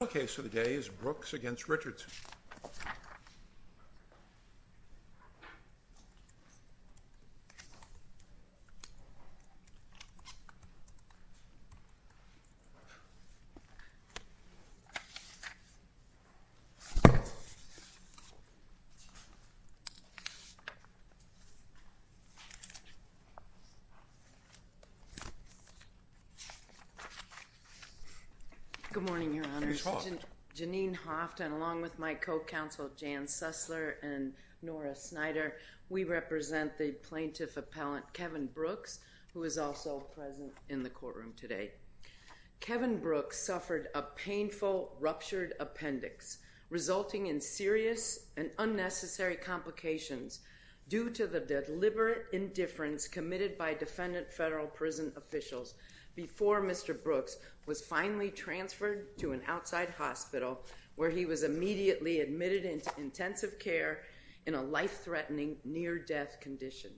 The case of the day is Brooks v. Richardson. Good morning, your honors. Janine Hoft and along with my co-counsel Jan Susler and Nora Snyder, we represent the plaintiff appellant, Kevin Brooks, who is also present in the courtroom today. Kevin Brooks suffered a painful ruptured appendix resulting in serious and unnecessary complications due to the deliberate indifference committed by defendant federal prison officials before Mr. Brooks was finally transferred to an outside hospital where he was immediately admitted into intensive care in a life-threatening near-death condition.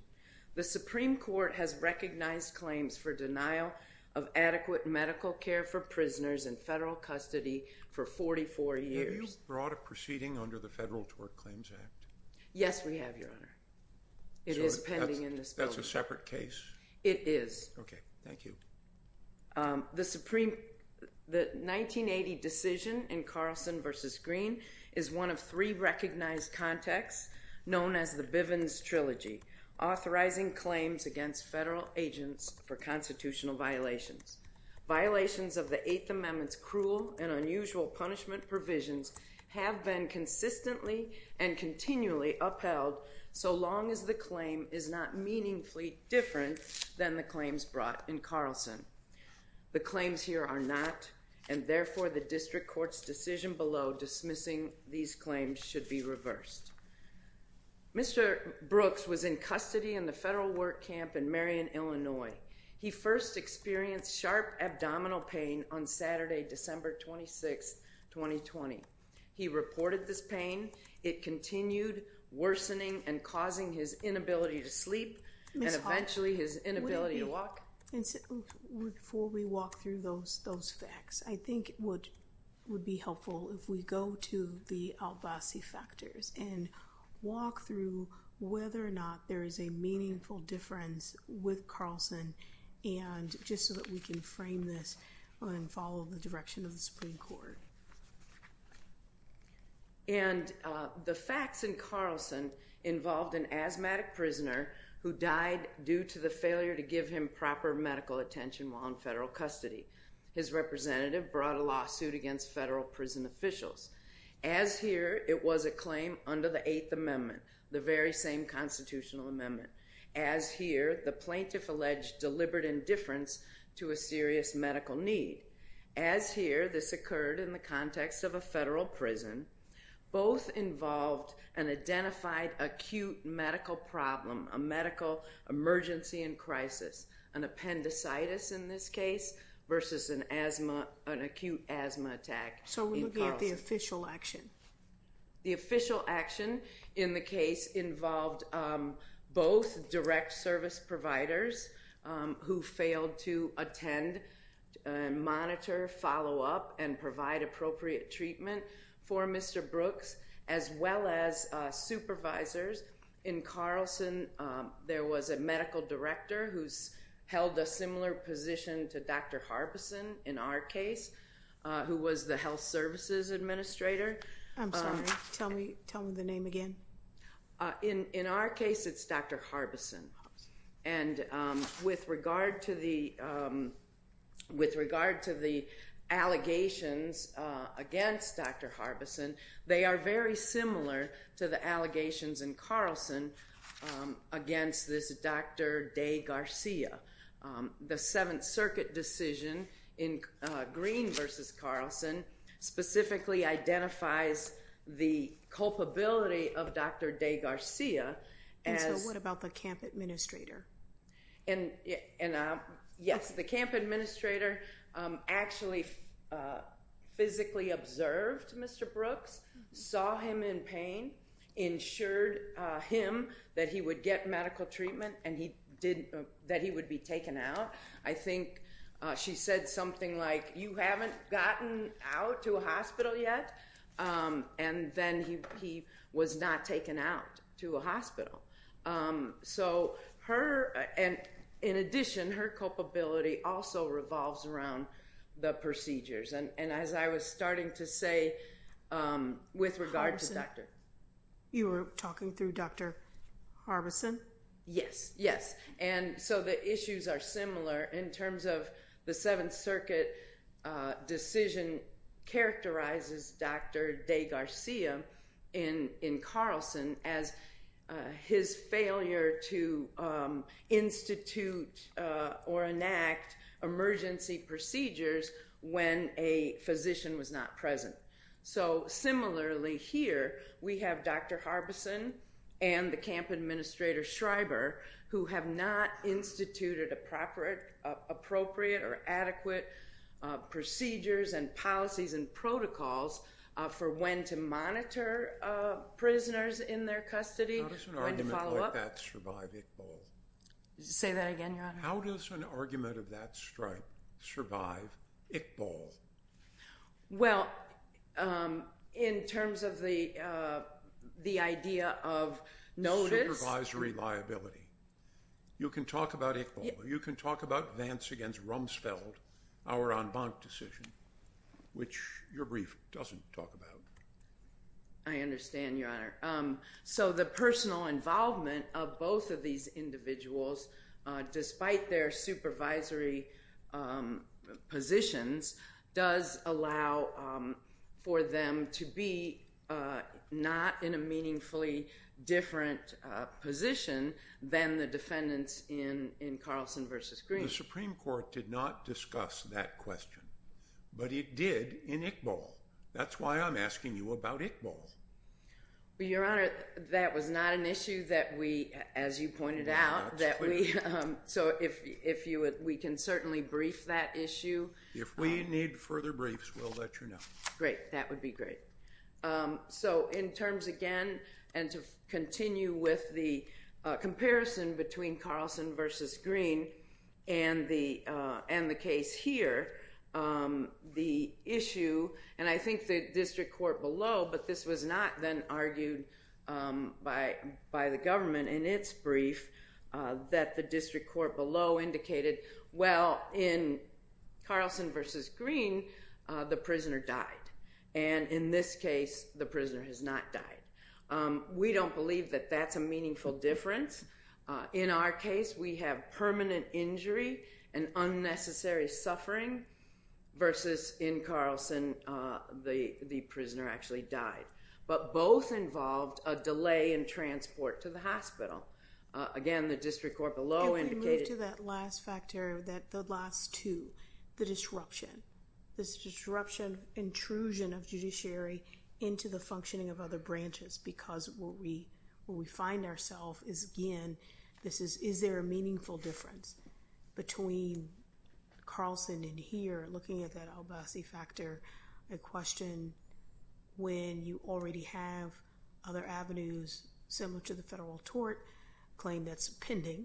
The Supreme Court has for denial of adequate medical care for prisoners in federal custody for 44 years. Have you brought a proceeding under the Federal Tort Claims Act? Yes, we have, your honor. It is pending in this building. So that's a separate case? It is. Okay, thank you. The 1980 decision in Carlson v. Green is one of three recognized contexts known as the Constitutional Violations. Violations of the Eighth Amendment's cruel and unusual punishment provisions have been consistently and continually upheld so long as the claim is not meaningfully different than the claims brought in Carlson. The claims here are not, and therefore the district court's decision below dismissing these claims should be reversed. Mr. Brooks was in custody in the federal work camp in Marion, Illinois. He first experienced sharp abdominal pain on Saturday, December 26, 2020. He reported this pain. It continued worsening and causing his inability to sleep and eventually his inability to walk. Before we walk through those facts, I think it would be helpful if we go to the Al-Basi Factors and walk through whether or not there is a meaningful difference with Carlson and just so that we can frame this and follow the direction of the Supreme Court. And the facts in Carlson involved an asthmatic prisoner who died due to the failure to give him proper medical attention while in federal custody. His representative brought a lawsuit against federal prison officials. As here, it was a claim under the Eighth Amendment, the very same constitutional amendment. As here, the plaintiff alleged deliberate indifference to a serious medical need. As here, this occurred in the context of a federal prison. Both involved an identified acute medical problem, a medical emergency and crisis, an appendicitis in this case versus an acute asthma attack. So we're looking at the official action. The official action in the case involved both direct service providers who failed to attend, monitor, follow up and provide appropriate treatment for Mr. Brooks as well as supervisors. In Carlson, there was a medical director who's held a similar position to Dr. Harbison in our case, who was the health services administrator. I'm sorry, tell me the name again. In our case, it's Dr. Harbison. And with regard to the allegations against Dr. Harbison, they are very similar to the allegations in Carlson against this Dr. DeGarcia. The Seventh Circuit decision in Green versus Carlson specifically identifies the culpability of Dr. DeGarcia. And so what about the camp administrator? Yes, the camp administrator actually physically observed Mr. Brooks, saw him in pain, ensured him that he would get medical treatment and that he would be taken out. I think she said something like, you haven't gotten out to a hospital yet? And then he was not taken out to a hospital. So in addition, her culpability also revolves around the procedures. And as I was starting to say, with regard to Dr. Harbison. You were talking through Dr. Harbison? Yes, yes. And so the issues are similar in terms of the Seventh Circuit decision characterizes Dr. DeGarcia in Carlson as his failure to institute or enact emergency procedures when a physician was not present. So similarly here, we have Dr. Harbison and the camp administrator Schreiber who have not instituted appropriate or adequate procedures and policies and protocols for when to monitor prisoners in their custody. How does an argument like that survive Iqbal? Say that again, Your Honor? How does an argument of that strength survive Iqbal? Well, in terms of the idea of notice. Supervisory liability. You can talk about Iqbal. You can talk about Vance against Rumsfeld, our en banc decision, which your brief doesn't talk about. I understand, Your Honor. So the personal involvement of both of these individuals, despite their supervisory positions, does allow for them to be not in a meaningfully different position than the defendants in Carlson versus Green. The Supreme Court did not discuss that question. But it did in Iqbal. That's why I'm asking you about Iqbal. Well, Your Honor, that was not an issue that we, as you pointed out, that we, so if we can certainly brief that issue. If we need further briefs, we'll let you know. That would be great. So in terms, again, and to continue with the comparison between Carlson versus Green and the case here, the issue, and I think the district court below, but this was not then argued by the government in its brief, that the district court below indicated, well, in Carlson versus Green, the prisoner died. And in this case, the prisoner has not died. We don't believe that that's a meaningful difference. In our case, we have permanent injury and unnecessary suffering versus in Carlson, the prisoner actually died. But both involved a delay in transport to the hospital. Again, the district court below indicated... You can move to that last factor, the last two, the disruption. This disruption, intrusion of judiciary into the functioning of other branches. Because what we find ourself is, again, is there a meaningful difference between Carlson and here? Looking at that Albasi factor, the question, when you already have other avenues similar to the federal tort claim that's pending,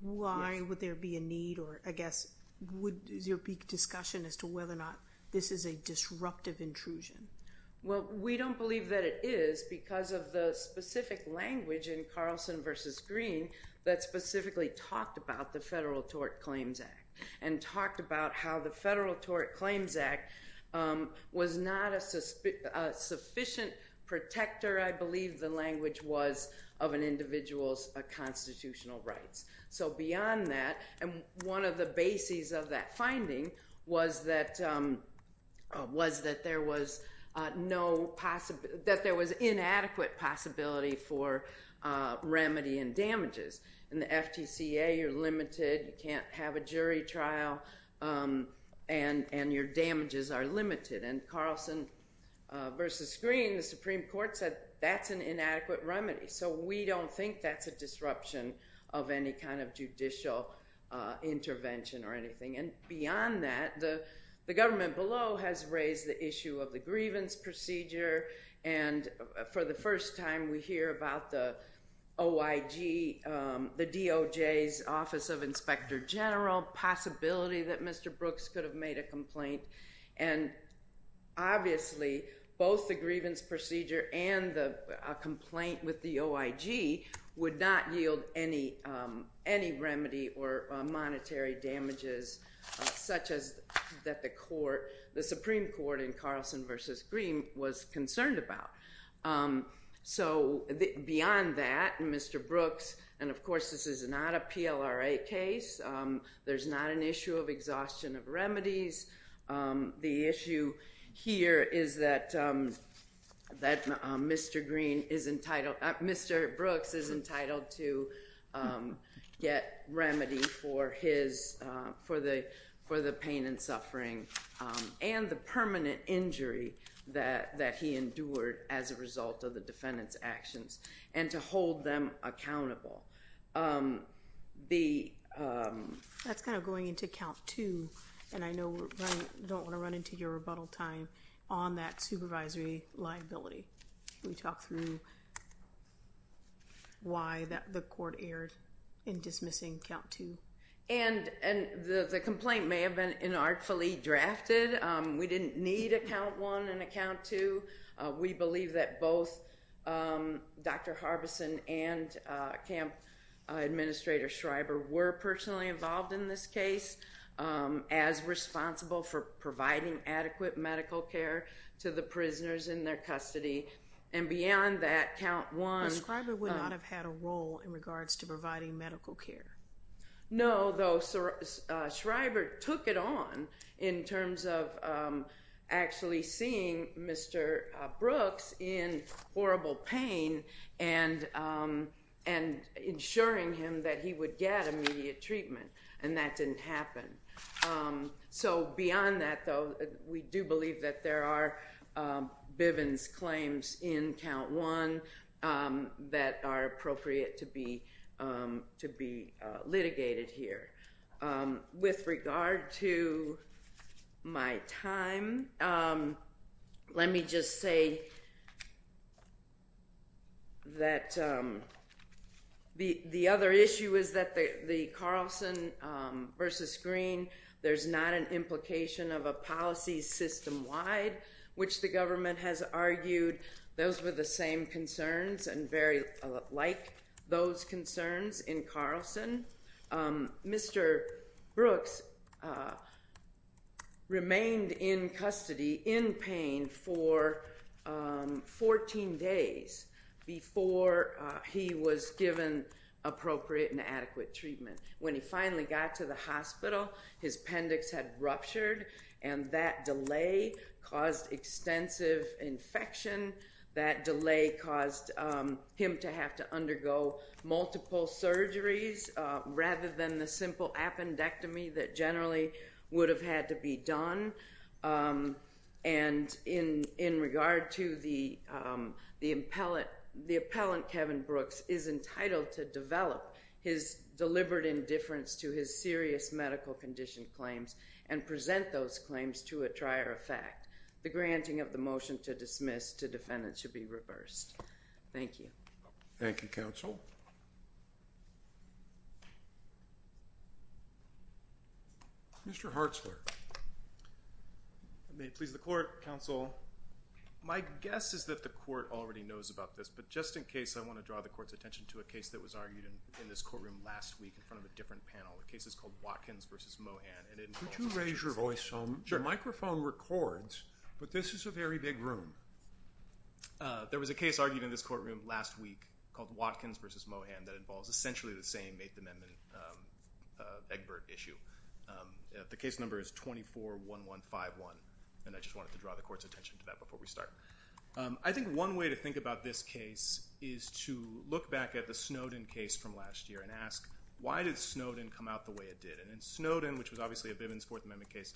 why would there be a need or, I guess, would there be discussion as to whether or not this is a disruptive intrusion? Well, we don't believe that it is because of the specific language in Carlson versus Green that specifically talked about the Federal Tort Claims Act and talked about how the Federal Tort Claims Act was not a sufficient protector, I believe the language was, of an individual's constitutional rights. So beyond that, and one of the bases of that finding was that there was inadequate possibility for remedy and damages. In the FTCA, you're limited, you can't have a jury trial, and your damages are limited. And Carlson versus Green, the Supreme Court said that's an inadequate remedy. So we don't think that's a disruption of any kind of judicial intervention or anything. And beyond that, the government below has raised the issue of the grievance procedure. And for the first time, we hear about the OIG, the DOJ's Office of Inspector General, possibility that Mr. Brooks could have made a complaint. And obviously, both the grievance procedure and the complaint with the OIG would not yield any remedy or monetary damages, such as that the Supreme Court in Carlson versus Green was concerned about. So beyond that, Mr. Brooks, and of course this is not a PLRA case, there's not an issue of exhaustion of remedies. The issue here is that Mr. Brooks is entitled to get remedy for the pain and suffering, and the permanent injury that he endured as a result of the defendant's actions, and to hold them accountable. That's kind of going into count two, and I know we don't want to run into your rebuttal time on that supervisory liability. Can you talk through why the court erred in dismissing count two? And the complaint may have been inartfully drafted. We didn't need a count one and a count two. We believe that both Dr. Harbison and Camp Administrator Schreiber were personally involved in this case, as responsible for providing adequate medical care to the prisoners in their custody. And beyond that, count one— Ms. Schreiber would not have had a role in regards to providing medical care. No, though Schreiber took it on in terms of actually seeing Mr. Brooks in horrible pain and ensuring him that he would get immediate treatment, and that didn't happen. So beyond that, though, we do believe that there are Bivens claims in count one that are appropriate to be litigated here. With regard to my time, let me just say that the other issue is that the Carlson v. Green, there's not an implication of a policy system-wide, which the government has argued those were the same concerns and very like those concerns in Carlson. Mr. Brooks remained in custody in pain for 14 days before he was given appropriate and adequate treatment. When he finally got to the hospital, his appendix had ruptured, and that delay caused extensive infection. That delay caused him to have to undergo multiple surgeries rather than the simple appendectomy that generally would have had to be done. And in regard to the appellant, Kevin Brooks is entitled to develop his deliberate indifference to his serious medical condition claims and present those claims to a trier of fact. The granting of the motion to dismiss the defendant should be reversed. Thank you. Thank you, counsel. Mr. Hartzler. May it please the court, counsel. My guess is that the court already knows about this, but just in case, I want to draw the court's attention to a case that was argued in this courtroom last week in front of a different panel. The case is called Watkins v. Mohan. Could you raise your voice so the microphone records? But this is a very big room. There was a case argued in this courtroom last week called Watkins v. Mohan that involves essentially the same Eighth Amendment Egbert issue. The case number is 24-1151, and I just wanted to draw the court's attention to that before we start. I think one way to think about this case is to look back at the Snowden case from last year and ask, why did Snowden come out the way it did? In Snowden, which was obviously a Bivens Fourth Amendment case,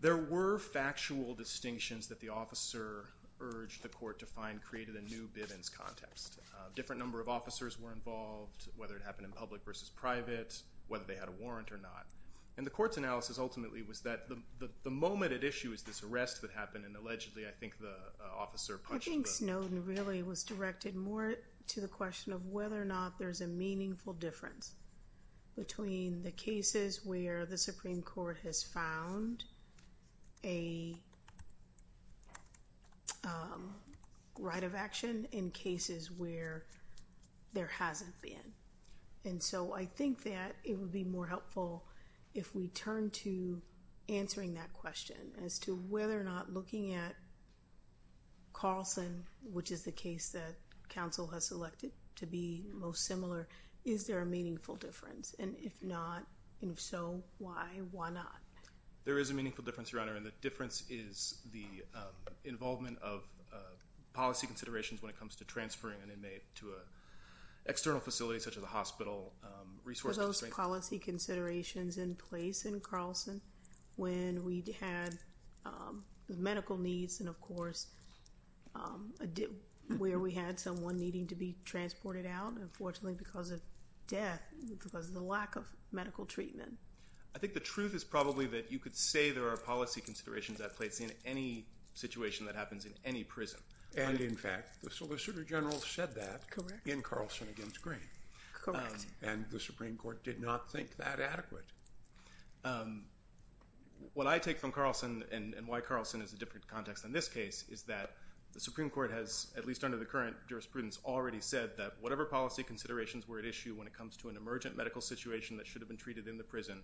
there were factual distinctions that the officer urged the court to find created a new Bivens context. A different number of officers were involved, whether it happened in public versus private, whether they had a warrant or not. And the court's analysis ultimately was that the moment it issues this arrest that happened, and allegedly I think the officer punched the- I think Snowden really was directed more to the question of whether or not there's a meaningful difference between the cases where the Supreme Court has found a right of action and cases where there hasn't been. And so I think that it would be more helpful if we turn to answering that question as to whether or not looking at Carlson, which is the case that counsel has selected to be most similar, is there a meaningful difference? And if not, and if so, why, why not? There is a meaningful difference, Your Honor, and the difference is the involvement of policy considerations when it comes to transferring an inmate to an external facility such as a hospital resource- Were those policy considerations in place in Carlson when we had medical needs and of course where we had someone needing to be transported out? Unfortunately, because of death, because of the lack of medical treatment. I think the truth is probably that you could say there are policy considerations at place in any situation that happens in any prison. And in fact, the Solicitor General said that in Carlson against Green. Correct. And the Supreme Court did not think that adequate. What I take from Carlson and why Carlson is a different context than this case is that the Supreme Court has, at least under the current jurisprudence, already said that whatever policy considerations were at issue when it comes to an emergent medical situation that should have been treated in the prison,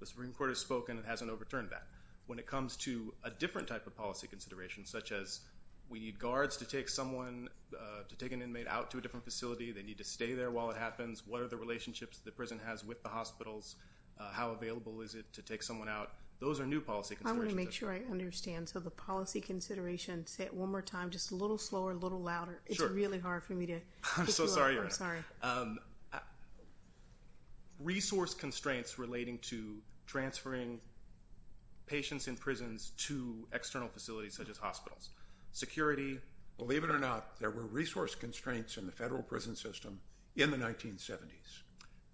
the Supreme Court has spoken and hasn't overturned that. When it comes to a different type of policy consideration, such as we need guards to take someone, to take an inmate out to a different facility, they need to stay there while it happens, what are the relationships the prison has with the hospitals, how available is it to take someone out, those are new policy considerations. I want to make sure I understand. So the policy consideration, say it one more time, just a little slower, a little louder. Sure. It's really hard for me to pick you up. I'm so sorry, Your Honor. I'm sorry. Resource constraints relating to transferring patients in prisons to external facilities such as hospitals, security. Believe it or not, there were resource constraints in the federal prison system in the 1970s.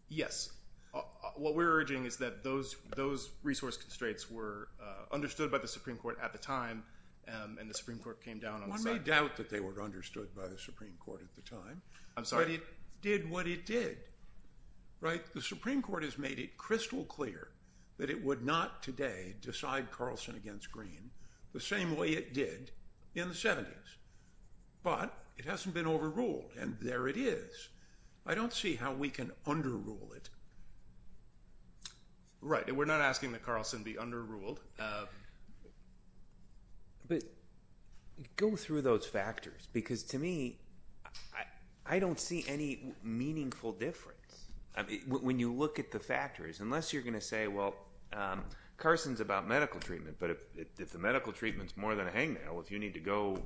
Yes. What we're urging is that those resource constraints were understood by the Supreme Court at the time and the Supreme Court came down on the side. I doubt that they were understood by the Supreme Court at the time. But it did what it did, right? The Supreme Court has made it crystal clear that it would not today decide Carlson against Green the same way it did in the 70s. But it hasn't been overruled, and there it is. I don't see how we can underrule it. Right. We're not asking that Carlson be underruled. But go through those factors because, to me, I don't see any meaningful difference. When you look at the factors, unless you're going to say, well, Carlson's about medical treatment, but if the medical treatment's more than a hangnail, if you need to go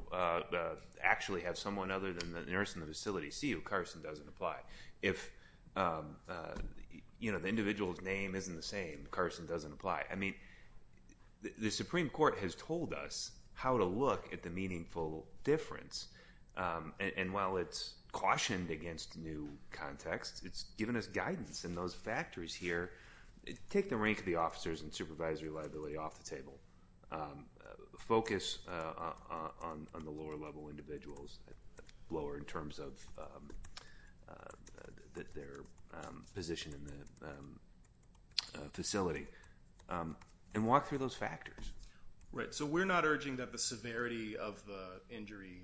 actually have someone other than the nurse in the facility see you, Carlson doesn't apply. If the individual's name isn't the same, Carlson doesn't apply. I mean, the Supreme Court has told us how to look at the meaningful difference. And while it's cautioned against new contexts, it's given us guidance in those factors here. Take the rank of the officers and supervisory liability off the table. Focus on the lower-level individuals, lower in terms of their position in the facility, and walk through those factors. Right. So we're not urging that the severity of the injury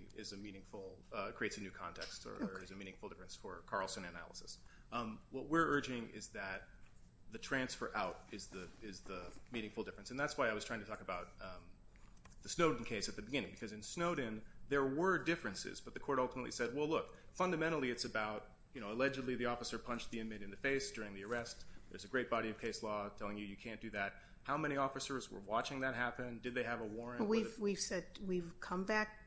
creates a new context or is a meaningful difference for Carlson analysis. What we're urging is that the transfer out is the meaningful difference. And that's why I was trying to talk about the Snowden case at the beginning, because in Snowden there were differences, but the court ultimately said, well, look, fundamentally it's about, you know, allegedly the officer punched the inmate in the face during the arrest. There's a great body of case law telling you you can't do that. How many officers were watching that happen? Did they have a warrant? We've said we've come back.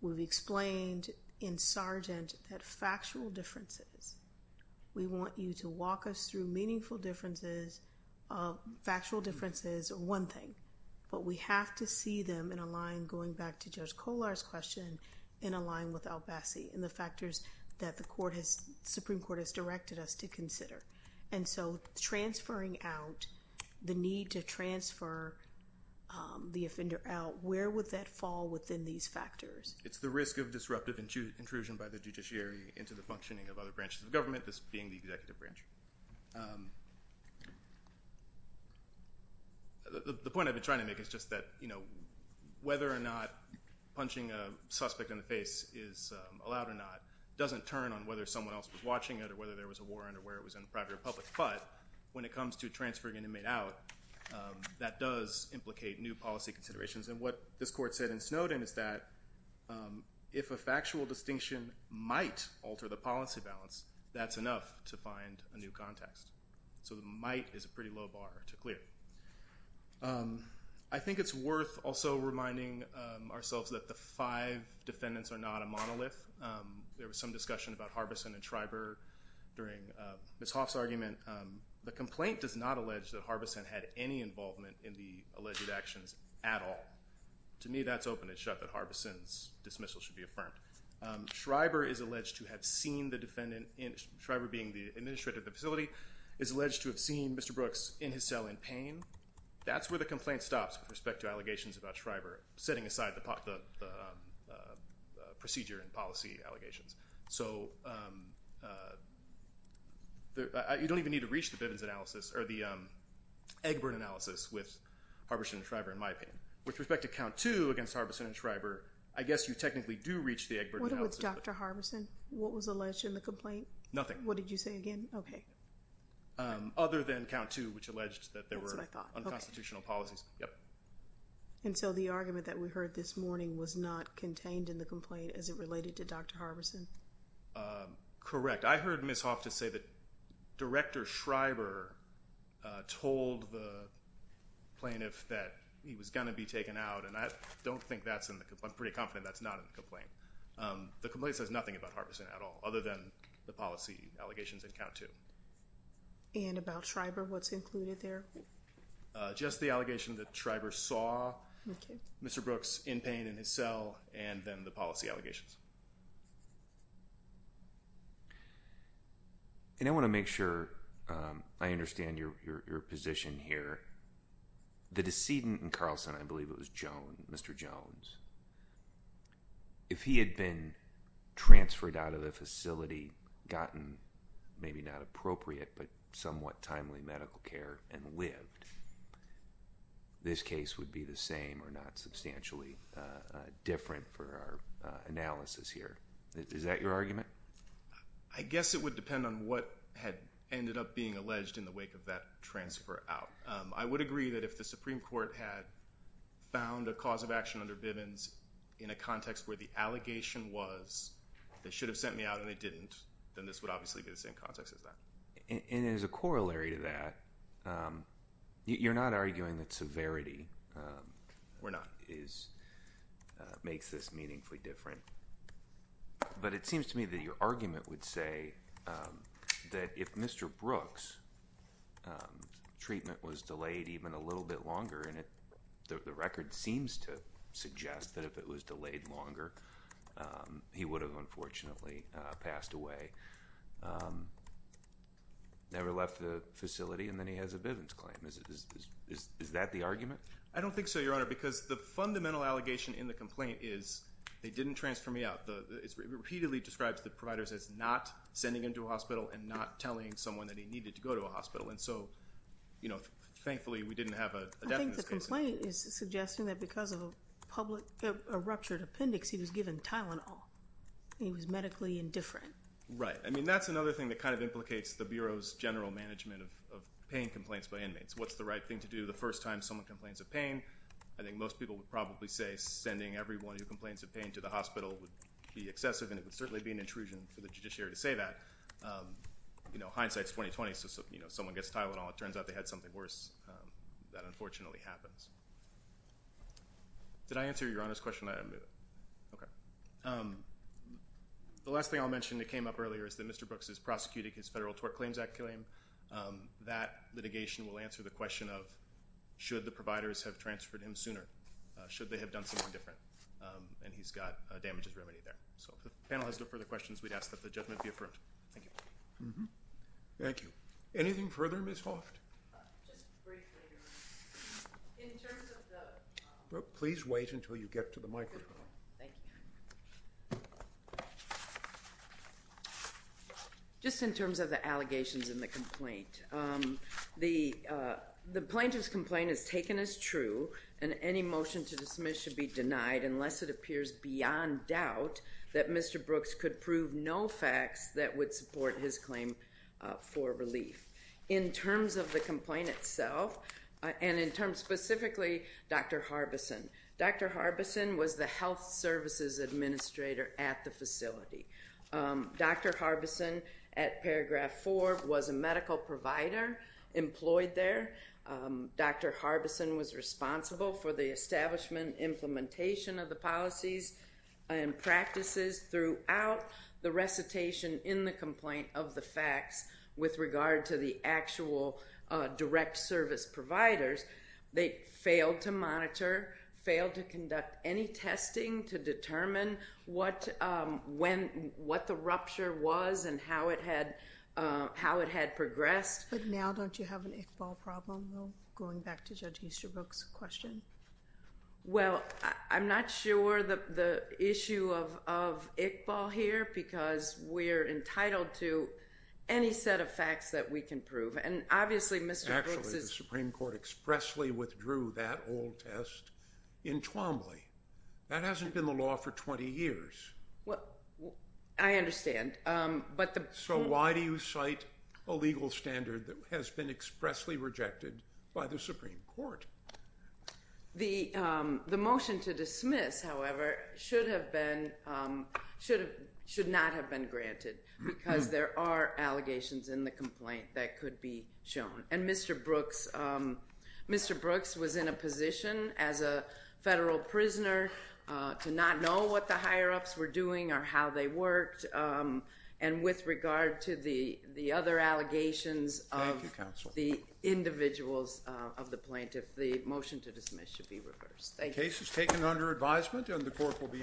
We've explained in Sargent that factual differences. We want you to walk us through meaningful differences, factual differences, one thing. But we have to see them in a line, going back to Judge Kollar's question, in a line with Albassi and the factors that the Supreme Court has directed us to consider. And so transferring out, the need to transfer the offender out, where would that fall within these factors? It's the risk of disruptive intrusion by the judiciary into the functioning of other branches of government, this being the executive branch. The point I've been trying to make is just that, you know, whether or not punching a suspect in the face is allowed or not doesn't turn on whether someone else was watching it or whether there was a warrant or where it was in the private or public. But when it comes to transferring an inmate out, that does implicate new policy considerations. And what this court said in Snowden is that if a factual distinction might alter the policy balance, that's enough to find a new context. So the might is a pretty low bar to clear. I think it's worth also reminding ourselves that the five defendants are not a monolith. There was some discussion about Harbison and Schreiber during Ms. Hoff's argument. And the complaint does not allege that Harbison had any involvement in the alleged actions at all. To me, that's open and shut, that Harbison's dismissal should be affirmed. Schreiber is alleged to have seen the defendant, Schreiber being the administrator of the facility, is alleged to have seen Mr. Brooks in his cell in pain. That's where the complaint stops with respect to allegations about Schreiber, setting aside the procedure and policy allegations. So you don't even need to reach the Eggburn analysis with Harbison and Schreiber, in my opinion. With respect to count two against Harbison and Schreiber, I guess you technically do reach the Eggburn analysis. What about Dr. Harbison? What was alleged in the complaint? Nothing. What did you say again? Okay. Other than count two, which alleged that there were unconstitutional policies. And so the argument that we heard this morning was not contained in the complaint as it related to Dr. Harbison? I heard Ms. Hoff just say that Director Schreiber told the plaintiff that he was going to be taken out, and I don't think that's in the complaint. I'm pretty confident that's not in the complaint. The complaint says nothing about Harbison at all, other than the policy allegations in count two. And about Schreiber, what's included there? Just the allegation that Schreiber saw Mr. Brooks in pain in his cell, and then the policy allegations. And I want to make sure I understand your position here. The decedent in Carlson, I believe it was Jones, Mr. Jones, if he had been transferred out of the facility, gotten maybe not appropriate, but somewhat timely medical care and lived, this case would be the same or not substantially different for our analysis here. Is that your argument? I guess it would depend on what had ended up being alleged in the wake of that transfer out. I would agree that if the Supreme Court had found a cause of action under Bivens in a context where the allegation was they should have sent me out and they didn't, then this would obviously be the same context as that. And as a corollary to that, you're not arguing that severity? We're not. Makes this meaningfully different. But it seems to me that your argument would say that if Mr. Brooks' treatment was delayed even a little bit longer, and the record seems to suggest that if it was delayed longer, he would have unfortunately passed away, never left the facility, and then he has a Bivens claim. Is that the argument? I don't think so, Your Honor, because the fundamental allegation in the complaint is they didn't transfer me out. It repeatedly describes the providers as not sending him to a hospital and not telling someone that he needed to go to a hospital. And so, thankfully, we didn't have a death in this case. I think the complaint is suggesting that because of a ruptured appendix, he was given Tylenol. He was medically indifferent. Right. I mean, that's another thing that kind of implicates the Bureau's general management of paying complaints by inmates. What's the right thing to do the first time someone complains of pain? I think most people would probably say sending everyone who complains of pain to the hospital would be excessive, and it would certainly be an intrusion for the judiciary to say that. Hindsight is 20-20, so if someone gets Tylenol, it turns out they had something worse. That unfortunately happens. Did I answer Your Honor's question? Okay. The last thing I'll mention that came up earlier is that Mr. Brooks is prosecuting his Federal Tort Claims Act claim. That litigation will answer the question of should the providers have transferred him sooner, should they have done something different, and he's got damages remedy there. So if the panel has no further questions, we'd ask that the judgment be affirmed. Thank you. Thank you. Anything further, Ms. Hoft? Please wait until you get to the microphone. Thank you. Just in terms of the allegations in the complaint, the plaintiff's complaint is taken as true, and any motion to dismiss should be denied unless it appears beyond doubt that Mr. Brooks could prove no facts that would support his claim for relief. In terms of the complaint itself, and in terms specifically Dr. Harbison, Dr. Harbison was the health services administrator at the facility. Dr. Harbison at Paragraph 4 was a medical provider employed there. Dr. Harbison was responsible for the establishment, implementation of the policies and practices throughout the recitation in the complaint of the facts with regard to the actual direct service providers. They failed to monitor, failed to conduct any testing to determine what the rupture was and how it had progressed. But now don't you have an Iqbal problem going back to Judge Easterbrook's question? Well, I'm not sure the issue of Iqbal here because we're entitled to any set of facts that we can prove. And obviously Mr. Brooks is – Actually, the Supreme Court expressly withdrew that old test in Twombly. That hasn't been the law for 20 years. I understand. So why do you cite a legal standard that has been expressly rejected by the Supreme Court? The motion to dismiss, however, should not have been granted because there are allegations in the complaint that could be shown. And Mr. Brooks was in a position as a federal prisoner to not know what the higher-ups were doing or how they worked. And with regard to the other allegations of the individuals of the plaintiff, the motion to dismiss should be reversed. Thank you. The case is taken under advisement and the court will be in recess.